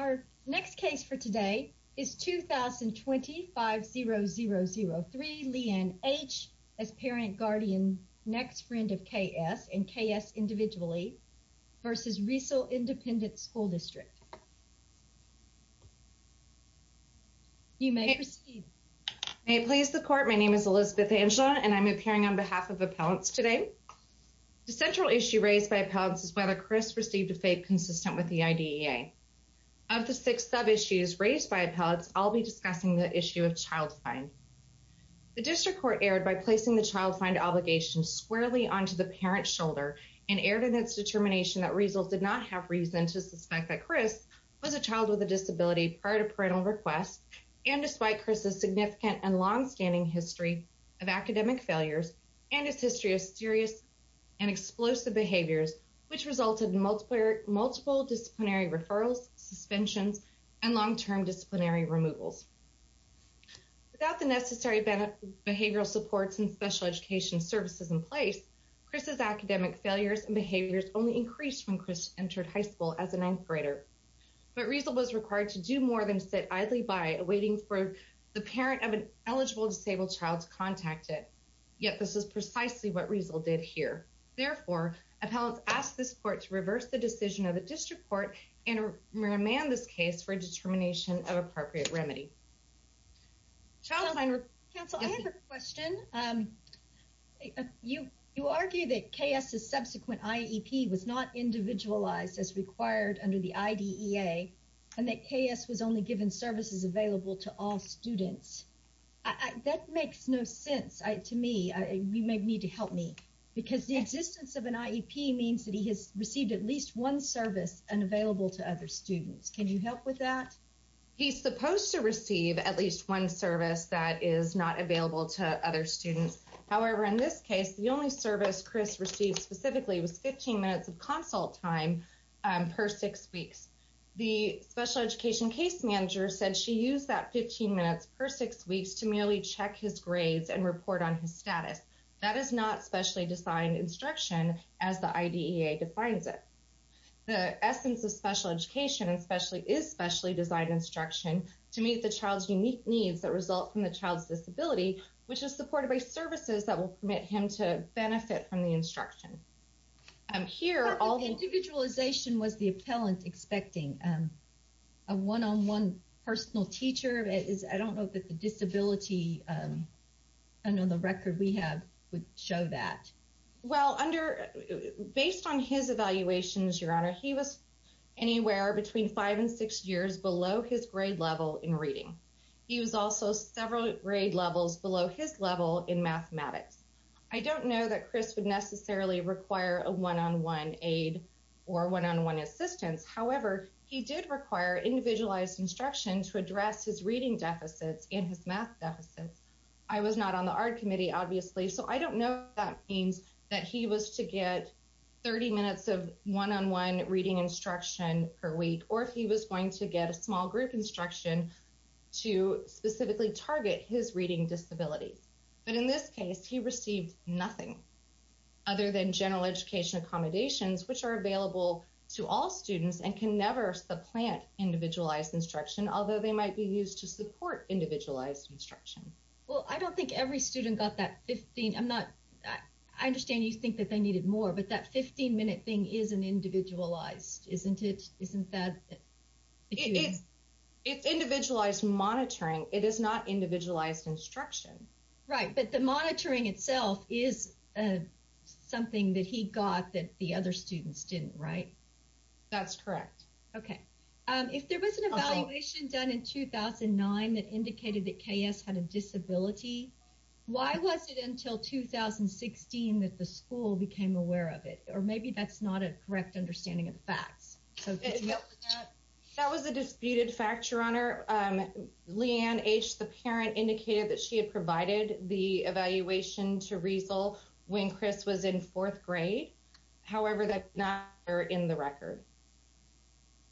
Our next case for today is 2020-50003, Leigh Ann H. as parent, guardian, next friend of K.S. and K.S. individually v. Riesel Independent School District. You may proceed. May it please the court, my name is Elizabeth Angela and I'm appearing on behalf of appellants today. The central issue raised by appellants is whether Chris received a FAPE consistent with the IDEA. Of the six sub-issues raised by appellants, I'll be discussing the issue of child find. The district court erred by placing the child find obligation squarely onto the parent's shoulder and erred in its determination that Riesel did not have reason to suspect that Chris was a child with a disability prior to parental request and despite Chris's significant and long-standing history of academic failures and his history of serious and explosive behaviors which resulted in multiple disciplinary referrals, suspensions, and long-term disciplinary removals. Without the necessary behavioral supports and special education services in place, Chris's academic failures and behaviors only increased when Chris entered high school as a ninth grader. But Riesel was required to do more than sit idly by, awaiting for the parent of an eligible disabled child to contact it, yet this is precisely what Riesel did here. Therefore, appellants ask this court to reverse the decision of the district court and remand this case for a determination of appropriate remedy. Child find... Counsel, I have a question. You argue that KS's subsequent IEP was not individualized as required under the IDEA and that KS was only given services available to all students. That makes no sense to me. You may need to help me because the existence of an IEP means that he has received at least one service unavailable to other students. Can you help with that? He's supposed to receive at least one service that is not available to other students. However, in this case, the only service Chris received specifically was 15 minutes of consult time per six weeks. The special education case manager said she used that 15 minutes per six weeks to merely check his grades and report on his status. That is not specially designed instruction as the IDEA defines it. The essence of special education is specially designed instruction to meet the child's unique needs that result from the child's disability, which is supported by services that will permit him to benefit from the instruction. Individualization was the appellant expecting a one-on-one personal teacher. I don't know that the disability, I don't know the record we have would show that. Well, based on his evaluations, your honor, he was anywhere between five and six years below his grade level in reading. He was also several grade levels below his level in mathematics. I don't know that Chris would necessarily require a one-on-one aid or one-on-one assistance. However, he did require individualized instruction to address his reading deficits and his math deficits. I was not on the ARD committee, obviously, so I don't know if that means that he was to get 30 minutes of one-on-one reading instruction per week or if he was going to get a small group instruction to specifically target his reading disability. But in this case, he received nothing other than general education accommodations, which are available to all students and can never supplant individualized instruction, although they might be used to support individualized instruction. Well, I don't think every student got that 15, I'm not, I understand you think that they needed more, but that 15 minute thing isn't individualized, isn't it? If it's individualized monitoring, it is not individualized instruction. Right, but the monitoring itself is something that he got that the other students didn't, right? That's correct. Okay. If there was an evaluation done in 2009 that indicated that KS had a disability, why was it until 2016 that the school became aware of it? Or maybe that's not a correct understanding of the facts. That was a disputed fact, Your Honor. Leanne H., the parent, indicated that she had provided the evaluation to Riesl when Chris was in fourth grade. However, that's not in the record.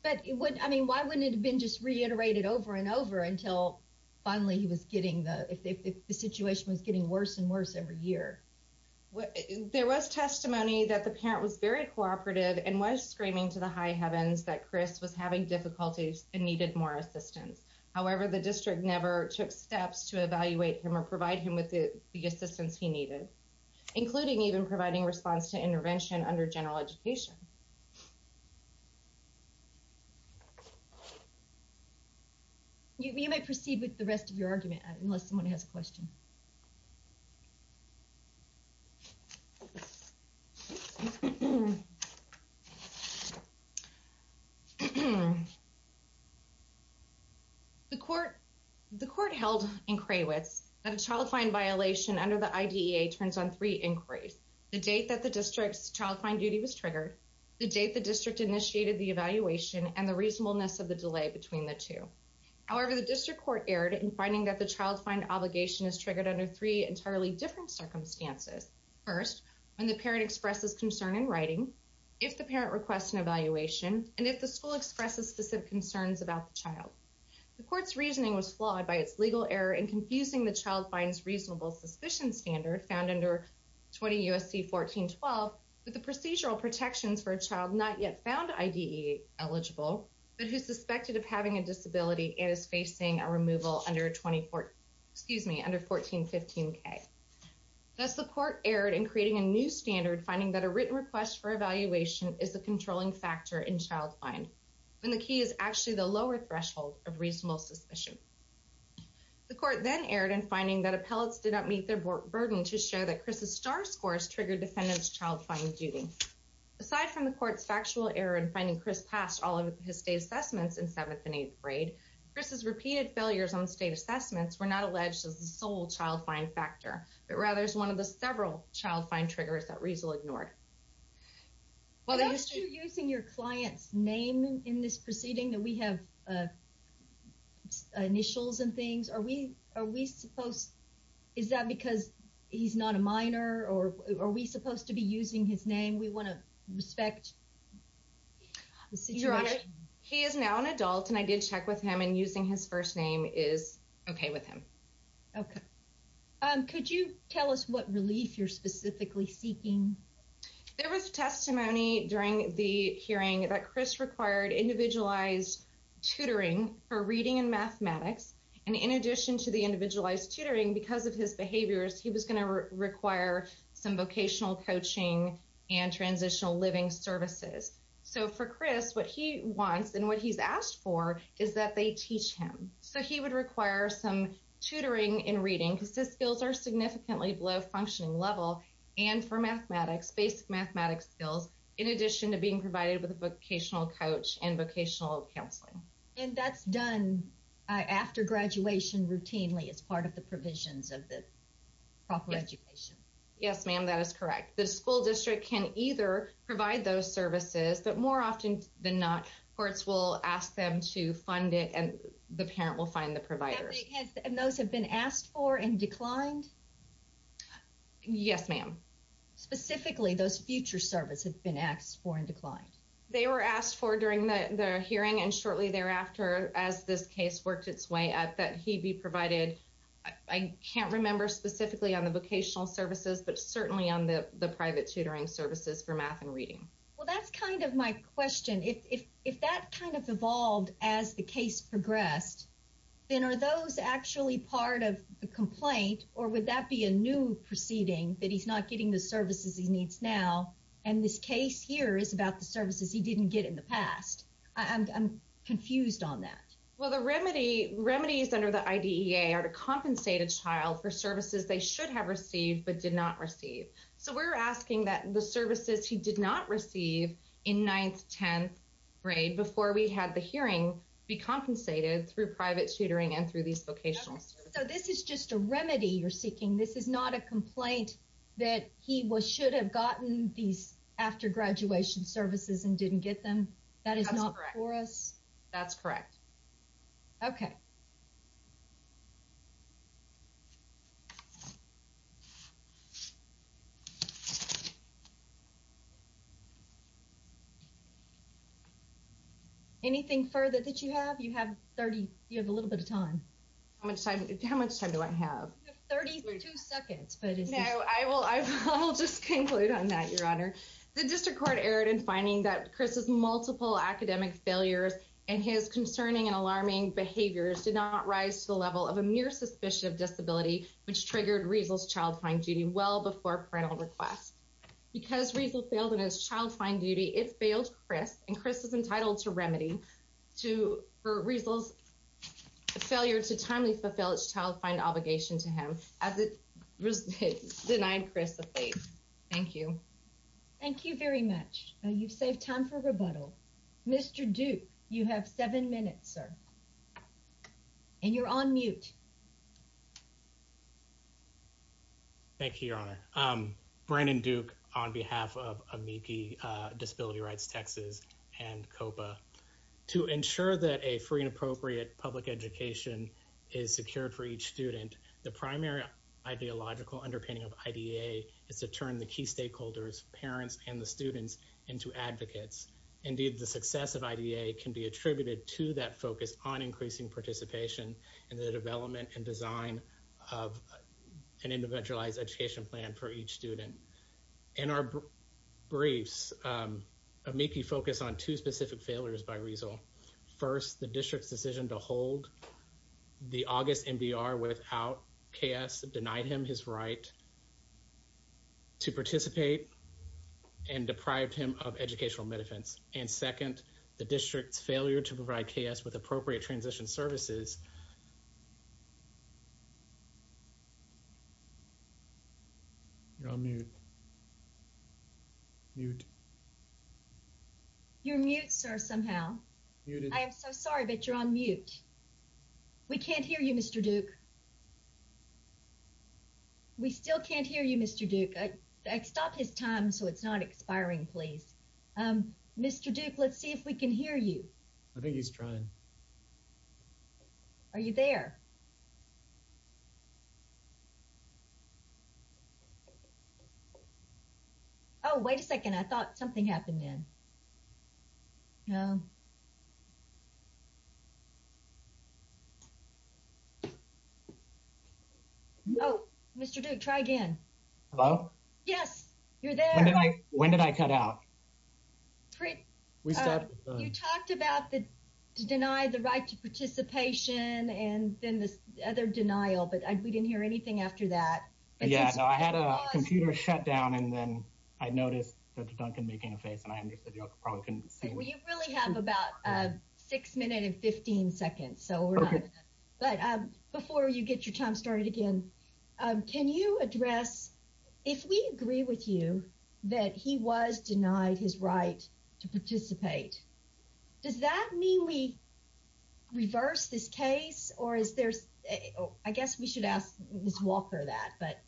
But, I mean, why wouldn't it have been just reiterated over and over until finally he was getting the, if the situation was getting worse and worse every year? There was testimony that the parent was very cooperative and was screaming to the high heavens that Chris was having difficulties and needed more assistance. However, the district never took steps to evaluate him or provide him with the assistance he needed, including even providing response to intervention under general education. You may proceed with the rest of your argument unless someone has a question. The court held in Krawitz that a child find violation under the IDEA turns on three inquiries. The date that the district's child find duty was triggered, the date the district initiated the evaluation, and the reasonableness of the delay between the two. However, the district court erred in finding that the child find obligation is triggered under three entirely different circumstances. First, when the parent expresses concern in writing, if the parent requests an evaluation, and if the school expresses specific concerns about the child. The court's reasoning was flawed by its legal error in confusing the child find reasonable suspicion standard found under 20 U.S.C. 1412 with the procedural protections for a child not yet found IDEA eligible, but who's suspected of having a disability and is facing a removal under 1415K. Thus, the court erred in creating a new standard, finding that a written request for evaluation is the controlling factor in child find, when the key is actually the lower threshold of reasonable suspicion. The court then erred in finding that appellates did not meet their burden to show that Chris's star scores triggered defendant's child find duty. Aside from the court's factual error in finding Chris passed all of his state assessments in 7th and 8th grade, Chris's repeated failures on state assessments were not alleged as the sole child find factor, but rather as one of the several child find triggers that Riesel ignored. Are you using your client's name in this proceeding? Do we have initials and things? Are we supposed to? Is that because he's not a minor, or are we supposed to be using his name? We want to respect the situation. He is now an adult, and I did check with him, and using his first name is okay with him. Okay. Could you tell us what relief you're specifically seeking? There was testimony during the hearing that Chris required individualized tutoring for reading and mathematics, and in addition to the individualized tutoring, because of his behaviors, he was going to require some vocational coaching and transitional living services. So for Chris, what he wants and what he's asked for is that they teach him. So he would require some tutoring in reading, because his skills are significantly below functioning level, and for mathematics, basic mathematics skills, in addition to being provided with a vocational coach and vocational counseling. And that's done after graduation routinely as part of the provisions of the proper education? Yes, ma'am, that is correct. The school district can either provide those services, but more often than not, courts will ask them to fund it, and the parent will find the provider. And those have been asked for and declined? Yes, ma'am. Specifically, those future services have been asked for and declined? They were asked for during the hearing, and shortly thereafter, as this case worked its way up, that he be provided, I can't remember specifically on the vocational services, but certainly on the private tutoring services for math and reading. Well, that's kind of my question. If that kind of evolved as the case progressed, then are those actually part of the complaint, or would that be a new proceeding, that he's not getting the services he needs now, and this case here is about the services he didn't get in the past? I'm confused on that. Well, the remedies under the IDEA are to compensate a child for services they should have received, but did not receive. So we're asking that the services he did not receive in 9th, 10th grade, before we had the hearing, be compensated through private tutoring and through these vocational services. So this is just a remedy you're seeking? This is not a complaint that he should have gotten these after-graduation services and didn't get them? That is not for us? That's correct. Okay. Thank you. Anything further that you have? You have a little bit of time. How much time do I have? You have 32 seconds. No, I will just conclude on that, Your Honor. The district court erred in finding that Chris's multiple academic failures and his concerning and alarming behaviors did not rise to the level of a mere suspicion of disability, which triggered Riesel's child-fine duty well before parental request. Because Riesel failed in his child-fine duty, it failed Chris, and Chris is entitled to remedy for Riesel's failure to timely fulfill its child-fine obligation to him, as it denied Chris the fate. Thank you. Thank you very much. You've saved time for rebuttal. Mr. Duke, you have seven minutes, sir. And you're on mute. Thank you, Your Honor. Brandon Duke on behalf of Amici Disability Rights Texas and COPA. To ensure that a free and appropriate public education is secured for each student, the primary ideological underpinning of IDA is to turn the key stakeholders, parents and the students, into advocates. Indeed, the success of IDA can be attributed to that focus on increasing participation in the development and design of an individualized education plan for each student. In our briefs, Amici focused on two specific failures by Riesel. First, the district's decision to hold the August MDR without KS denied him his right to participate and deprived him of educational benefits. And second, the district's failure to provide KS with appropriate transition services. You're on mute. Mute. You're mute, sir, somehow. I am so sorry, but you're on mute. We can't hear you, Mr. Duke. We still can't hear you, Mr. Duke. Stop his time so it's not expiring, please. Mr. Duke, let's see if we can hear you. I think he's trying. Are you there? Oh, wait a second. I thought something happened then. Oh, Mr. Duke, try again. Hello? Yes, you're there. When did I cut out? You talked about the deny the right to participation and then this other denial, but we didn't hear anything after that. Yeah, I had a computer shut down and then I noticed Dr. Duncan making a face and I understood you probably couldn't see me. We really have about six minutes and 15 seconds. But before you get your time started again, can you address if we agree with you that he was denied his right to participate? Does that mean we reverse this case or is there? I guess we should ask Ms. Walker that, but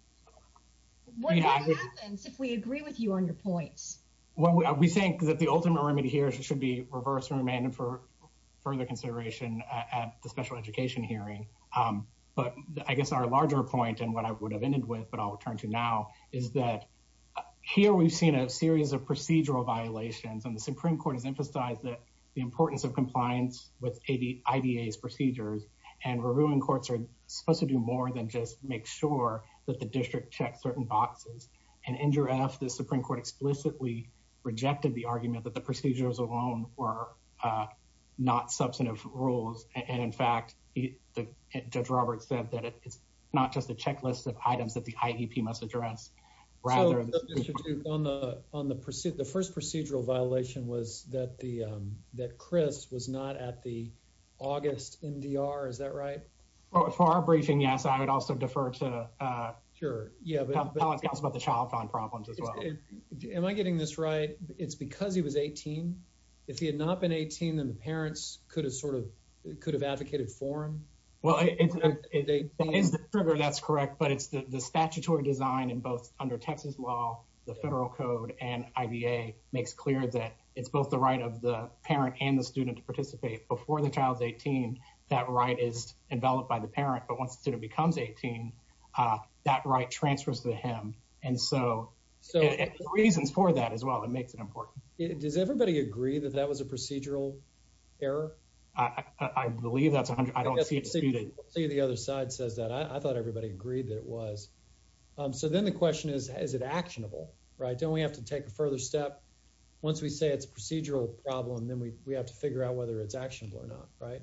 what happens if we agree with you on your points? Well, we think that the ultimate remedy here should be reversed and remanded for further consideration at the special education hearing. But I guess our larger point and what I would have ended with, but I'll return to now, is that here we've seen a series of procedural violations. And the Supreme Court has emphasized that the importance of compliance with IDA's procedures and reviewing courts are supposed to do more than just make sure that the district checks certain boxes. And NJRF, the Supreme Court, explicitly rejected the argument that the procedures alone were not substantive rules. And in fact, Judge Roberts said that it's not just a checklist of items that the IEP must address. So, Mr. Duke, on the first procedural violation was that Chris was not at the August NDR. Is that right? Well, for our briefing, yes. I would also defer to. Sure. Yeah, but it's about the child found problems as well. Am I getting this right? It's because he was 18. If he had not been 18, then the parents could have sort of could have advocated for him. Well, it is the trigger. That's correct. But it's the statutory design in both under Texas law. The federal code and IDA makes clear that it's both the right of the parent and the student to participate before the child's 18. That right is enveloped by the parent. But once it becomes 18, that right transfers to him. And so so reasons for that as well. It makes it important. Does everybody agree that that was a procedural error? I believe that's I don't see it. I thought everybody agreed that it was. So then the question is, is it actionable? Right. Don't we have to take a further step once we say it's a procedural problem? Then we have to figure out whether it's actionable or not. Right.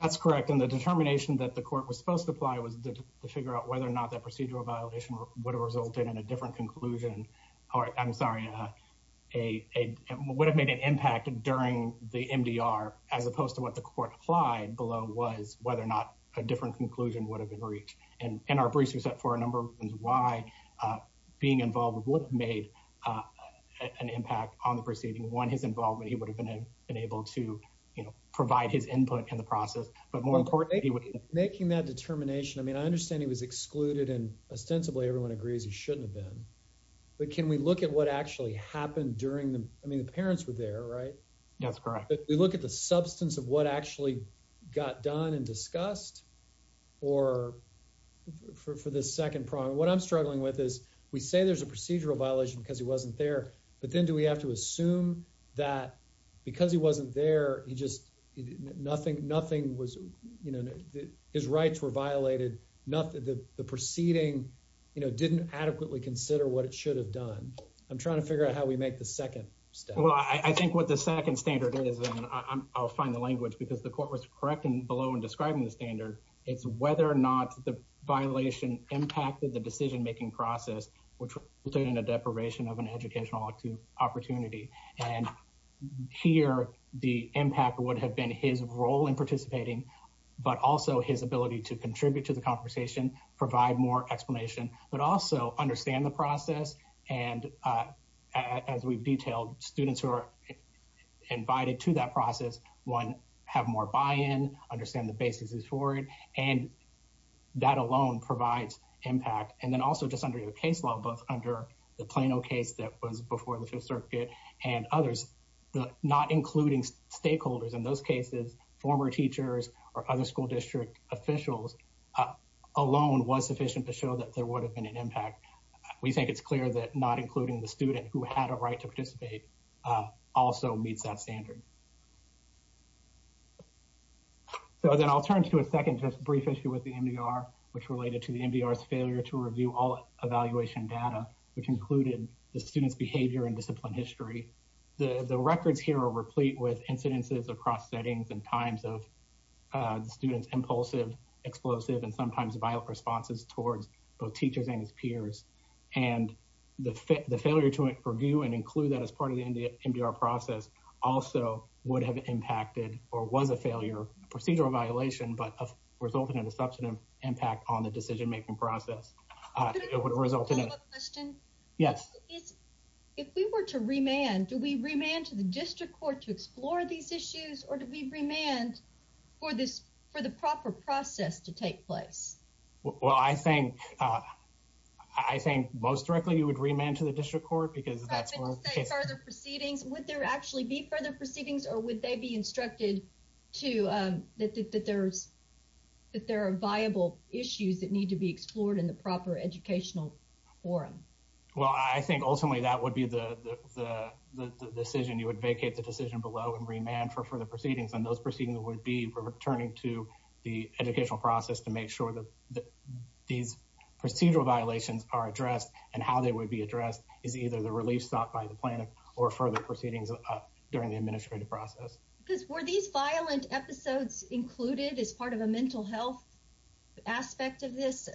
That's correct. And the determination that the court was supposed to apply was to figure out whether or not that procedural violation would have resulted in a different conclusion. I'm sorry, a would have made an impact during the MDR, as opposed to what the court applied below, was whether or not a different conclusion would have been reached. And our briefs are set for a number of reasons why being involved would have made an impact on the proceeding. One, his involvement, he would have been able to provide his input in the process. Making that determination. I mean, I understand he was excluded and ostensibly everyone agrees he shouldn't have been. But can we look at what actually happened during the I mean, the parents were there, right? That's correct. We look at the substance of what actually got done and discussed or for the second prong. What I'm struggling with is we say there's a procedural violation because he wasn't there. But then do we have to assume that because he wasn't there, he just nothing, nothing was, you know, his rights were violated. Not that the proceeding, you know, didn't adequately consider what it should have done. I'm trying to figure out how we make the second step. Well, I think what the second standard is, and I'll find the language because the court was correct and below and describing the standard. It's whether or not the violation impacted the decision making process, which put in a deprivation of an educational opportunity. And here the impact would have been his role in participating, but also his ability to contribute to the conversation, provide more explanation, but also understand the process. And as we've detailed, students who are invited to that process, one have more buy in, understand the basis is for it. And that alone provides impact. And then also just under your case law, both under the Plano case that was before the circuit and others, not including stakeholders. In those cases, former teachers or other school district officials alone was sufficient to show that there would have been an impact. We think it's clear that not including the student who had a right to participate also meets that standard. So then I'll turn to a second, just brief issue with the MDR, which related to the MDR's failure to review all evaluation data, which included the student's behavior and discipline history. The records here are replete with incidences across settings and times of students' impulsive, explosive, and sometimes violent responses towards both teachers and peers. And the failure to review and include that as part of the MDR process also would have impacted or was a failure, procedural violation, but resulted in a substantive impact on the decision making process. Could I ask a follow up question? Yes. If we were to remand, do we remand to the district court to explore these issues or do we remand for the proper process to take place? Well, I think I think most directly you would remand to the district court because that's where the proceedings would there actually be further proceedings or would they be instructed to that? That there's that there are viable issues that need to be explored in the proper educational forum. Well, I think ultimately that would be the decision. You would vacate the decision below and remand for further proceedings. And those proceedings would be returning to the educational process to make sure that these procedural violations are addressed and how they would be addressed is either the relief stopped by the plan or further proceedings during the administrative process. Because were these violent episodes included as part of a mental health aspect of this?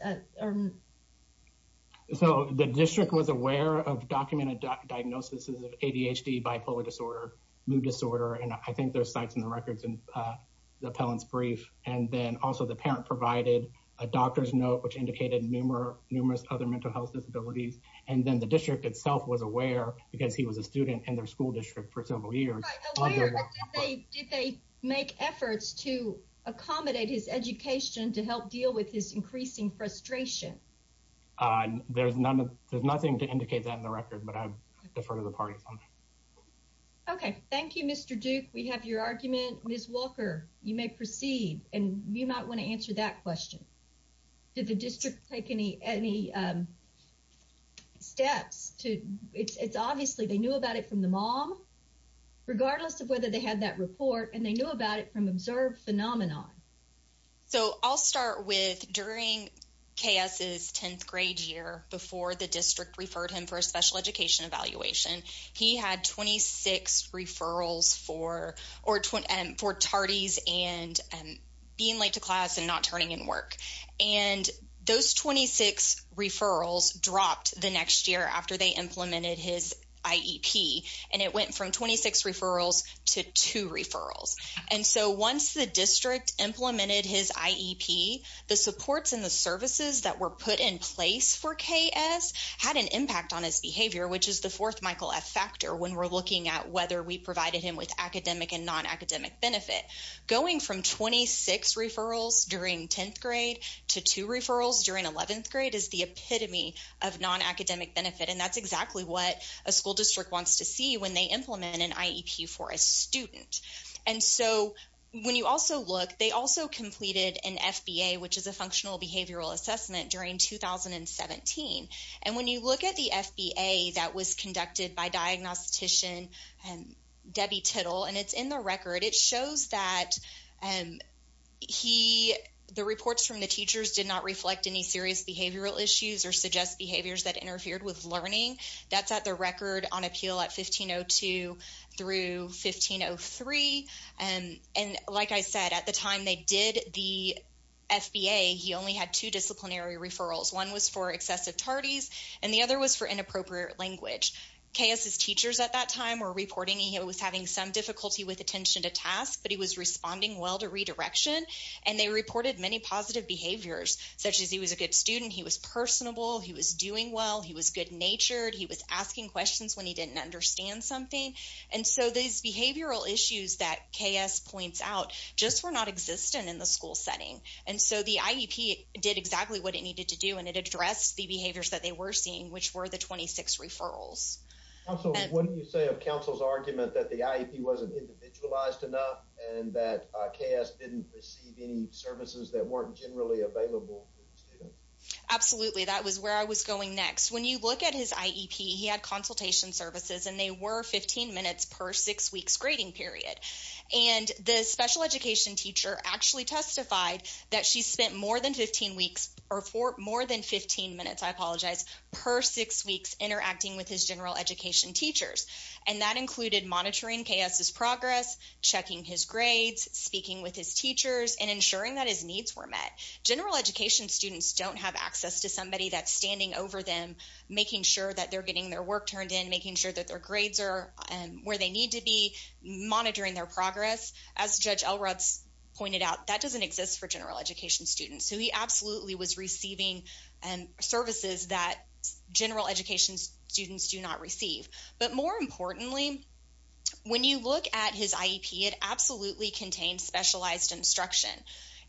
So the district was aware of documented diagnosis of ADHD, bipolar disorder, mood disorder, and I think there's sites in the records and the appellant's brief. And then also the parent provided a doctor's note, which indicated numerous other mental health disabilities. And then the district itself was aware because he was a student in their school district for several years. Did they make efforts to accommodate his education to help deal with his increasing frustration? There's nothing to indicate that in the record, but I defer to the party. OK, thank you, Mr. Duke. We have your argument. Ms. Walker, you may proceed and you might want to answer that question. Did the district take any steps to it's obviously they knew about it from the mom, regardless of whether they had that report and they knew about it from observed phenomenon. So I'll start with during KS's 10th grade year before the district referred him for a special education evaluation. He had 26 referrals for or for tardies and being late to class and not turning in work. And those 26 referrals dropped the next year after they implemented his IEP. And it went from 26 referrals to two referrals. And so once the district implemented his IEP, the supports and the services that were put in place for KS had an impact on his behavior, which is the fourth Michael F. Factor. When we're looking at whether we provided him with academic and non-academic benefit going from 26 referrals during 10th grade to two referrals during 11th grade is the epitome of non-academic benefit. And that's exactly what a school district wants to see when they implement an IEP for a student. And so when you also look, they also completed an FBA, which is a functional behavioral assessment during 2017. And when you look at the FBA that was conducted by diagnostician Debbie Tittle, and it's in the record, it shows that he the reports from the teachers did not reflect any serious behavioral issues or suggest behaviors that interfered with learning. That's at the record on appeal at 1502 through 1503. And like I said, at the time they did the FBA, he only had two disciplinary referrals. One was for excessive tardies, and the other was for inappropriate language. KS's teachers at that time were reporting he was having some difficulty with attention to task, but he was responding well to redirection. And they reported many positive behaviors, such as he was a good student. He was personable. He was doing well. He was good natured. He was asking questions when he didn't understand something. And so these behavioral issues that KS points out just were not existent in the school setting. And so the IEP did exactly what it needed to do, and it addressed the behaviors that they were seeing, which were the 26 referrals. What do you say of counsel's argument that the IEP wasn't individualized enough and that KS didn't receive any services that weren't generally available? Absolutely. That was where I was going next. When you look at his IEP, he had consultation services, and they were 15 minutes per six weeks grading period. And the special education teacher actually testified that she spent more than 15 weeks or more than 15 minutes, I apologize, per six weeks interacting with his general education teachers. And that included monitoring KS's progress, checking his grades, speaking with his teachers, and ensuring that his needs were met. General education students don't have access to somebody that's standing over them, making sure that they're getting their work turned in, making sure that their grades are where they need to be, monitoring their progress. As Judge Elrods pointed out, that doesn't exist for general education students. So he absolutely was receiving services that general education students do not receive. But more importantly, when you look at his IEP, it absolutely contained specialized instruction.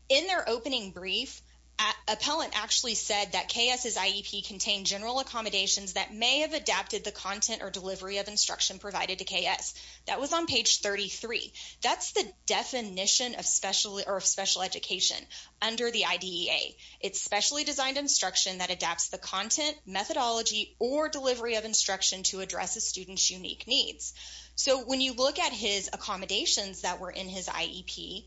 In their opening brief, appellant actually said that KS's IEP contained general accommodations that may have adapted the content or delivery of instruction provided to KS. That was on page 33. That's the definition of special education under the IDEA. It's specially designed instruction that adapts the content, methodology, or delivery of instruction to address a student's unique needs. So when you look at his accommodations that were in his IEP,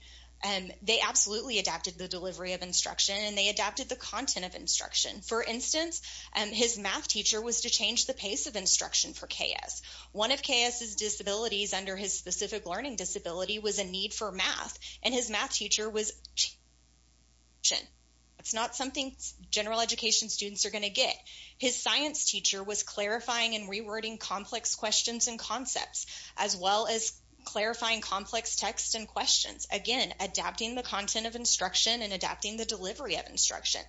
they absolutely adapted the delivery of instruction, and they adapted the content of instruction. For instance, his math teacher was to change the pace of instruction for KS. One of KS's disabilities under his specific learning disability was a need for math, and his math teacher was changing. That's not something general education students are going to get. His science teacher was clarifying and rewording complex questions and concepts, as well as clarifying complex text and questions. Again, adapting the content of instruction and adapting the delivery of instruction.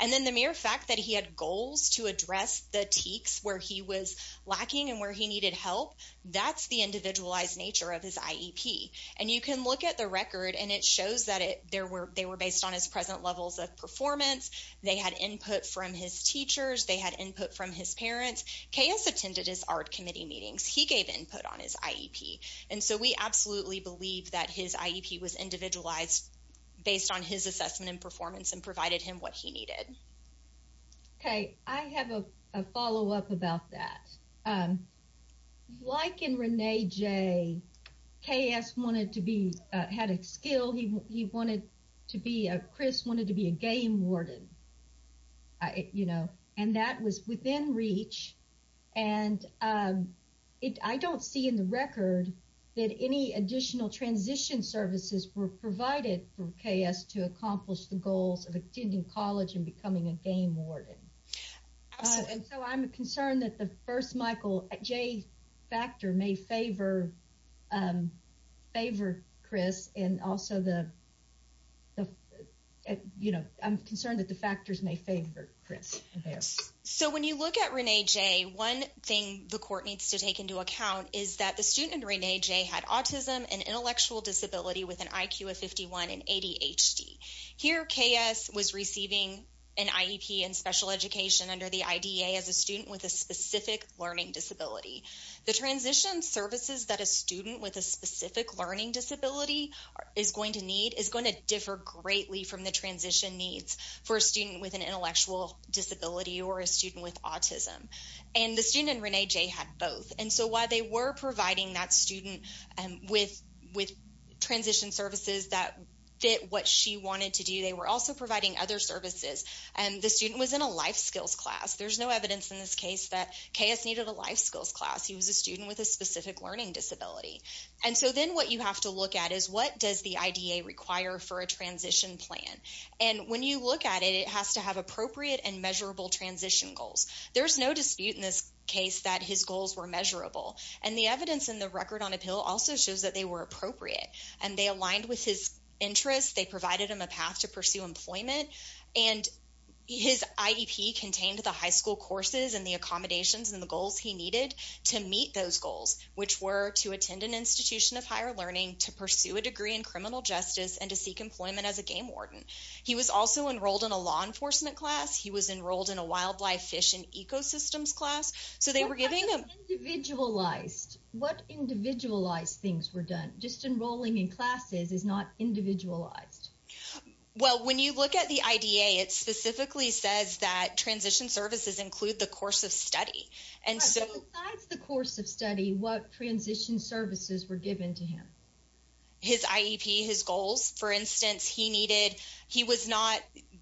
And then the mere fact that he had goals to address the TEKS where he was lacking and where he needed help, that's the individualized nature of his IEP. And you can look at the record, and it shows that they were based on his present levels of performance. They had input from his teachers. They had input from his parents. KS attended his art committee meetings. He gave input on his IEP. And so we absolutely believe that his IEP was individualized based on his assessment and performance and provided him what he needed. Okay. I have a follow-up about that. Like in Renee J., KS wanted to be, had a skill. He wanted to be, Chris wanted to be a game warden, you know, and that was within reach. And I don't see in the record that any additional transition services were provided for KS to accomplish the goals of attending college and becoming a game warden. And so I'm concerned that the first Michael J. factor may favor Chris and also the, you know, I'm concerned that the factors may favor Chris. Yes. So when you look at Renee J., one thing the court needs to take into account is that the student in Renee J. had autism and intellectual disability with an IQ of 51 and ADHD. Here, KS was receiving an IEP in special education under the IDA as a student with a specific learning disability. The transition services that a student with a specific learning disability is going to need is going to differ greatly from the transition needs for a student with an intellectual disability or a student with autism. And the student in Renee J. had both. And so while they were providing that student with transition services that fit what she wanted to do, they were also providing other services. And the student was in a life skills class. There's no evidence in this case that KS needed a life skills class. He was a student with a specific learning disability. And so then what you have to look at is what does the IDA require for a transition plan? And when you look at it, it has to have appropriate and measurable transition goals. There's no dispute in this case that his goals were measurable. And the evidence in the record on appeal also shows that they were appropriate and they aligned with his interests. They provided him a path to pursue employment. And his IEP contained the high school courses and the accommodations and the goals he needed to meet those goals, which were to attend an institution of higher learning, to pursue a degree in criminal justice, and to seek employment as a game warden. He was also enrolled in a law enforcement class. He was enrolled in a wildlife, fish, and ecosystems class. What individualized things were done? Just enrolling in classes is not individualized. Well, when you look at the IDA, it specifically says that transition services include the course of study. Besides the course of study, what transition services were given to him? His IEP, his goals. For instance,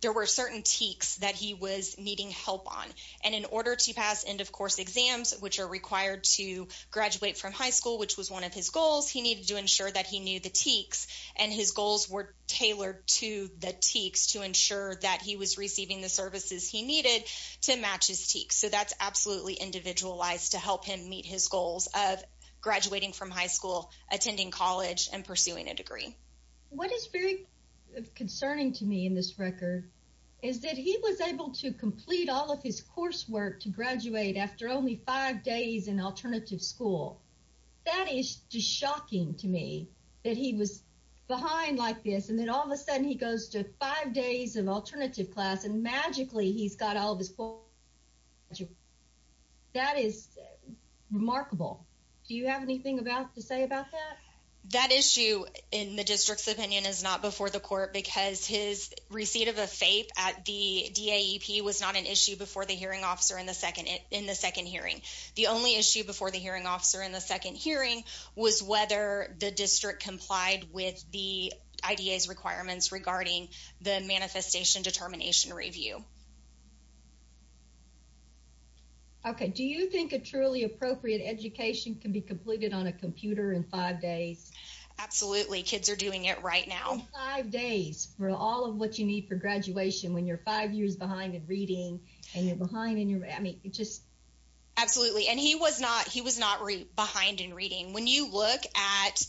there were certain TEKS that he was needing help on. And in order to pass end-of-course exams, which are required to graduate from high school, which was one of his goals, he needed to ensure that he knew the TEKS. And his goals were tailored to the TEKS to ensure that he was receiving the services he needed to match his TEKS. So that's absolutely individualized to help him meet his goals of graduating from high school, attending college, and pursuing a degree. What is very concerning to me in this record is that he was able to complete all of his coursework to graduate after only five days in alternative school. That is just shocking to me, that he was behind like this, and then all of a sudden he goes to five days of alternative class, and magically he's got all of his coursework. That is remarkable. Do you have anything to say about that? That issue, in the district's opinion, is not before the court because his receipt of a FAPE at the DAEP was not an issue before the hearing officer in the second hearing. The only issue before the hearing officer in the second hearing was whether the district complied with the IDA's requirements regarding the manifestation determination review. Okay, do you think a truly appropriate education can be completed on a computer in five days? Absolutely, kids are doing it right now. Five days for all of what you need for graduation when you're five years behind in reading, and you're behind in your, I mean, just. Absolutely, and he was not, he was not behind in reading. When you look at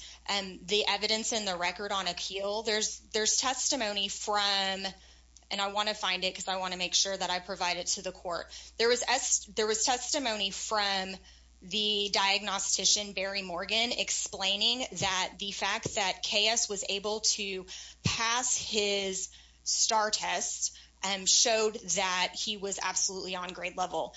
the evidence in the record on appeal, there's testimony from, and I want to find it because I want to make sure that I provide it to the court. There was testimony from the diagnostician, Barry Morgan, explaining that the fact that KS was able to pass his STAR test showed that he was absolutely on grade level.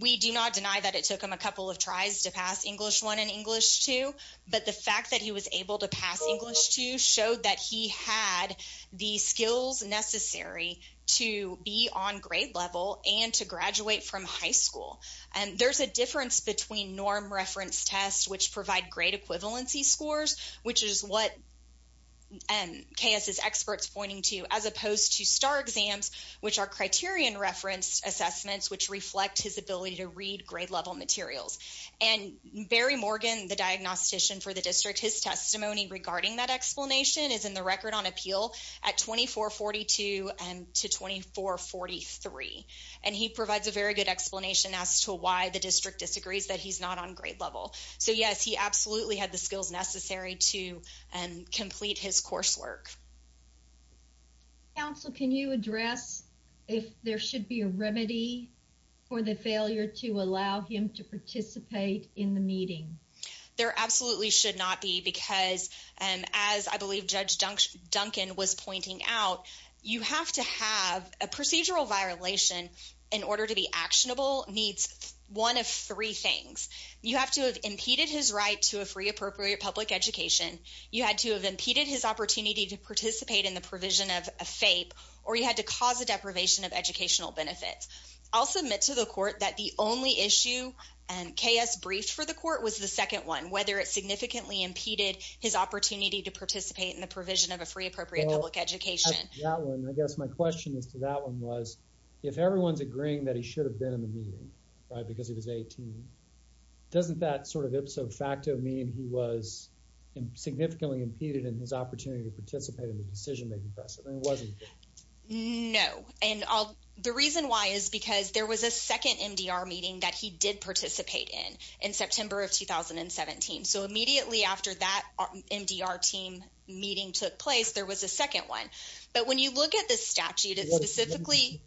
We do not deny that it took him a couple of tries to pass English 1 and English 2, but the fact that he was able to pass English 2 showed that he had the skills necessary to be on grade level and to graduate from high school. There's a difference between norm reference tests, which provide grade equivalency scores, which is what KS's experts pointing to, as opposed to STAR exams, which are criterion reference assessments, which reflect his ability to read grade level materials. And Barry Morgan, the diagnostician for the district, his testimony regarding that explanation is in the record on appeal at 2442 to 2443, and he provides a very good explanation as to why the district disagrees that he's not on grade level. So, yes, he absolutely had the skills necessary to complete his coursework. Counsel, can you address if there should be a remedy for the failure to allow him to participate in the meeting? There absolutely should not be because, as I believe Judge Duncan was pointing out, you have to have a procedural violation in order to be actionable needs one of three things. You have to have impeded his right to a free appropriate public education, you had to have impeded his opportunity to participate in the provision of a FAPE, or you had to cause a deprivation of educational benefits. I'll submit to the court that the only issue KS briefed for the court was the second one, whether it significantly impeded his opportunity to participate in the provision of a free appropriate public education. I guess my question to that one was, if everyone's agreeing that he should have been in the meeting, right, because he was 18, doesn't that sort of ipso facto mean he was significantly impeded in his opportunity to participate in the decision-making process? No, and the reason why is because there was a second MDR meeting that he did participate in in September of 2017. So immediately after that MDR team meeting took place, there was a second one. But when you look at this statute, it specifically…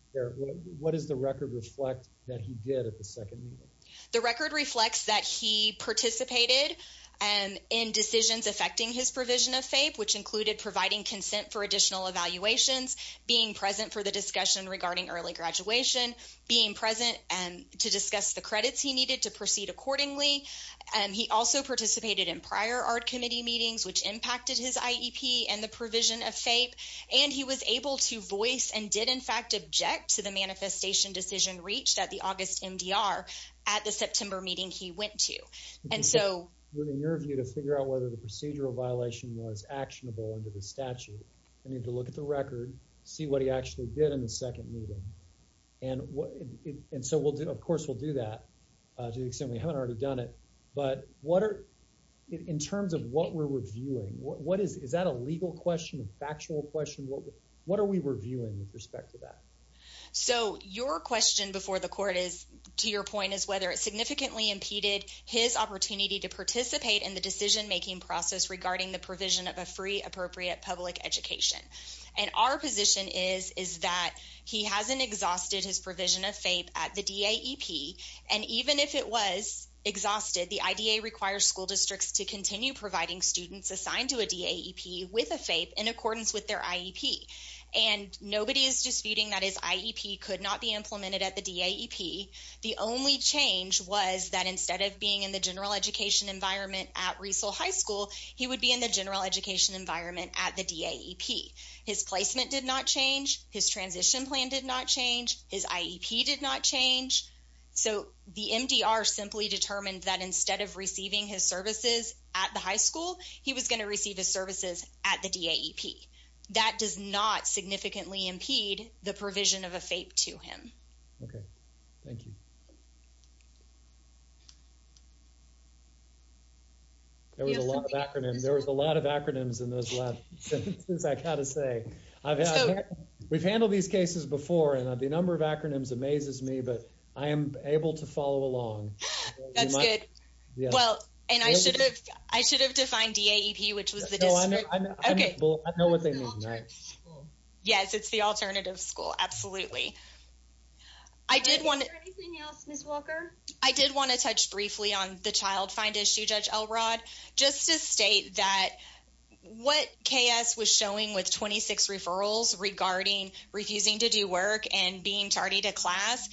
What does the record reflect that he did at the second meeting? The record reflects that he participated in decisions affecting his provision of FAPE, which included providing consent for additional evaluations, being present for the discussion regarding early graduation, being present to discuss the credits he needed to proceed accordingly. He also participated in prior art committee meetings, which impacted his IEP and the provision of FAPE. And he was able to voice and did in fact object to the manifestation decision reached at the August MDR at the September meeting he went to. And so… We're in your view to figure out whether the procedural violation was actionable under the statute. We need to look at the record, see what he actually did in the second meeting. And so we'll do… Of course, we'll do that to the extent we haven't already done it. But what are… In terms of what we're reviewing, what is… Is that a legal question, a factual question? What are we reviewing with respect to that? So your question before the court is, to your point, is whether it significantly impeded his opportunity to participate in the decision-making process regarding the provision of a free appropriate public education. And our position is that he hasn't exhausted his provision of FAPE at the DAEP. And even if it was exhausted, the IDA requires school districts to continue providing students assigned to a DAEP with a FAPE in accordance with their IEP. And nobody is disputing that his IEP could not be implemented at the DAEP. The only change was that instead of being in the general education environment at Riesel High School, he would be in the general education environment at the DAEP. His placement did not change. His transition plan did not change. His IEP did not change. So the MDR simply determined that instead of receiving his services at the high school, he was going to receive his services at the DAEP. That does not significantly impede the provision of a FAPE to him. Okay, thank you. There was a lot of acronyms. There was a lot of acronyms in those last sentences, I've got to say. We've handled these cases before, and the number of acronyms amazes me, but I am able to follow along. That's good. Well, and I should have defined DAEP, which was the district. I know what they mean. Yes, it's the alternative school, absolutely. Is there anything else, Ms. Walker? I did want to touch briefly on the child find issue, Judge Elrod. Just to state that what K.S. was showing with 26 referrals regarding refusing to do work and being tardy to class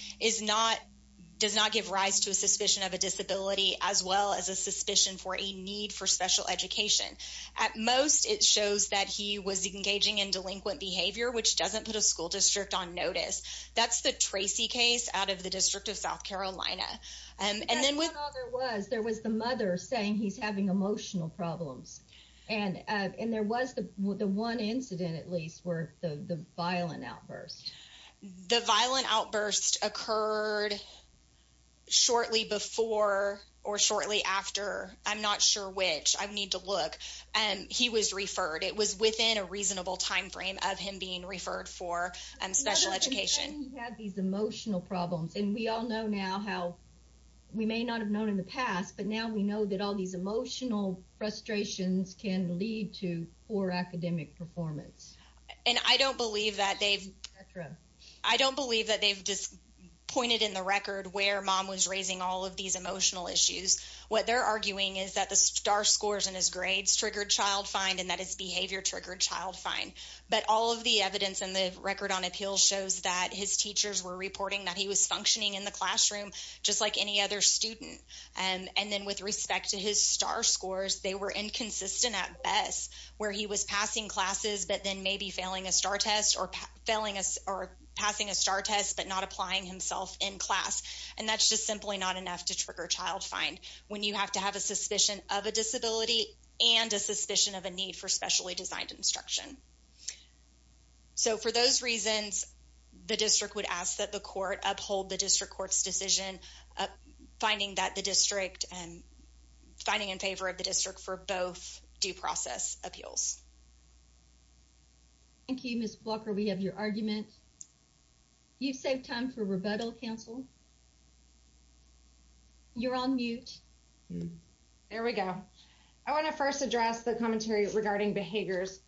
does not give rise to a suspicion of a disability as well as a suspicion for a need for special education. At most, it shows that he was engaging in delinquent behavior, which doesn't put a school district on notice. That's the Tracy case out of the District of South Carolina. There was the mother saying he's having emotional problems, and there was the one incident, at least, where the violent outburst. The violent outburst occurred shortly before or shortly after. I'm not sure which. I need to look. He was referred. It was within a reasonable time frame of him being referred for special education. He had these emotional problems, and we all know now how we may not have known in the past, but now we know that all these emotional frustrations can lead to poor academic performance. I don't believe that they've just pointed in the record where mom was raising all of these emotional issues. What they're arguing is that the star scores in his grades triggered child find and that his behavior triggered child find, but all of the evidence in the record on appeals shows that his teachers were reporting that he was functioning in the classroom just like any other student. With respect to his star scores, they were inconsistent at best, where he was passing classes but then maybe failing a star test or passing a star test but not applying himself in class. That's just simply not enough to trigger child find when you have to have a suspicion of a disability and a suspicion of a need for specially designed instruction. So for those reasons, the district would ask that the court uphold the district court's decision, finding that the district and finding in favor of the district for both due process appeals. Thank you, Miss Walker. We have your argument. You save time for rebuttal counsel. You're on mute. There we go. I want to first address the commentary regarding behaviors.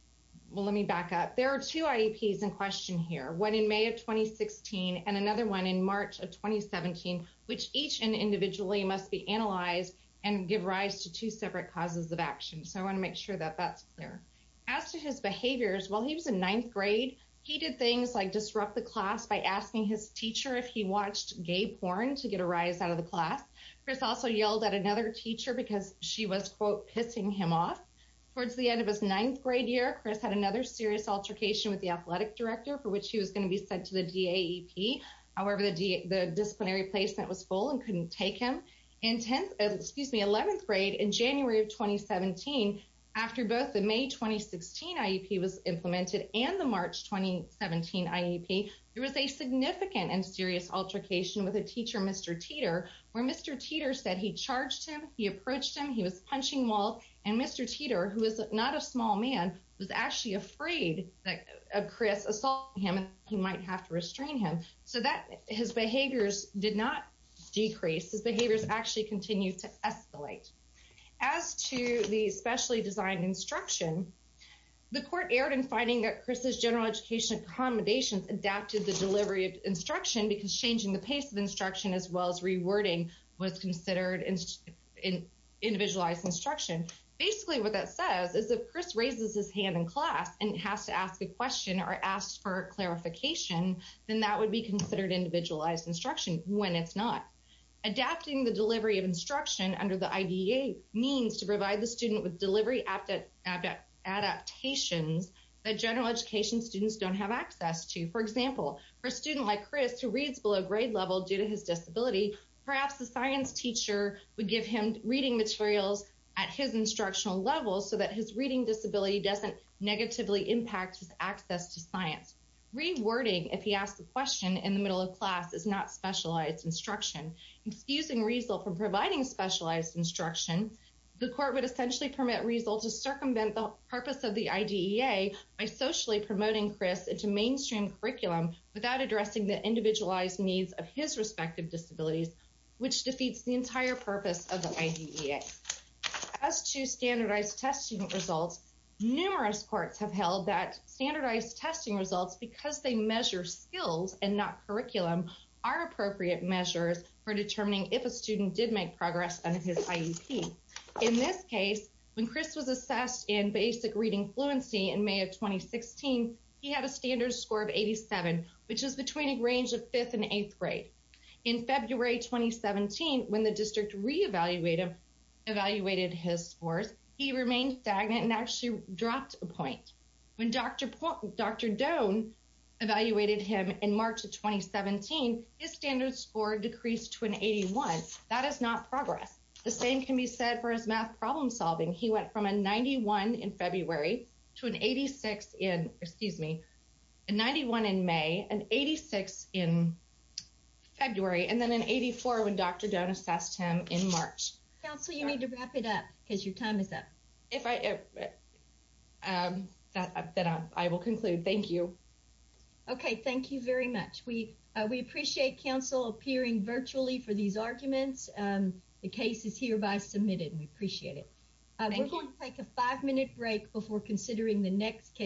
Well, let me back up. There are two IEPs in question here. One in May of 2016 and another one in March of 2017, which each individually must be analyzed and give rise to two separate causes of action. So I want to make sure that that's clear. As to his behaviors, while he was in ninth grade, he did things like disrupt the class by asking his teacher if he watched gay porn to get a rise out of the class. Chris also yelled at another teacher because she was, quote, pissing him off. Towards the end of his ninth grade year, Chris had another serious altercation with the athletic director for which he was going to be sent to the DAEP. However, the disciplinary placement was full and couldn't take him. In 10th, excuse me, 11th grade in January of 2017, after both the May 2016 IEP was implemented and the March 2017 IEP, there was a significant and serious altercation with a teacher, Mr. Teeter, where Mr. Teeter said he charged him. He approached him. He was punching wall. And Mr. Teeter, who is not a small man, was actually afraid that Chris assault him and he might have to restrain him so that his behaviors did not decrease. His behaviors actually continued to escalate. As to the specially designed instruction, the court erred in finding that Chris's general education accommodations adapted the delivery of instruction because changing the pace of instruction as well as rewording was considered an individualized instruction. Basically what that says is if Chris raises his hand in class and has to ask a question or ask for clarification, then that would be considered individualized instruction when it's not. Adapting the delivery of instruction under the IDEA means to provide the student with delivery adaptations that general education students don't have access to. For example, for a student like Chris who reads below grade level due to his disability, perhaps the science teacher would give him reading materials at his instructional level so that his reading disability doesn't negatively impact his access to science. Rewording, if he asks a question in the middle of class, is not specialized instruction. Excusing Riesel from providing specialized instruction, the court would essentially permit Riesel to circumvent the purpose of the IDEA by socially promoting Chris into mainstream curriculum without addressing the individualized needs of his respective disabilities, which defeats the entire purpose of the IDEA. As to standardized testing results, numerous courts have held that standardized testing results because they measure skills and not curriculum are appropriate measures for determining if a student did make progress under his IEP. In this case, when Chris was assessed in basic reading fluency in May of 2016, he had a standard score of 87, which is between a range of 5th and 8th grade. In February 2017, when the district re-evaluated his scores, he remained stagnant and actually dropped a point. When Dr. Doan evaluated him in March of 2017, his standard score decreased to an 81. That is not progress. The same can be said for his math problem solving. He went from a 91 in February to an 86 in, excuse me, a 91 in May, an 86 in February, and then an 84 when Dr. Doan assessed him in March. Counsel, you need to wrap it up because your time is up. I will conclude. Thank you. Okay, thank you very much. We appreciate counsel appearing virtually for these arguments. The case is hereby submitted. We appreciate it. We're going to take a five minute break before considering the next case.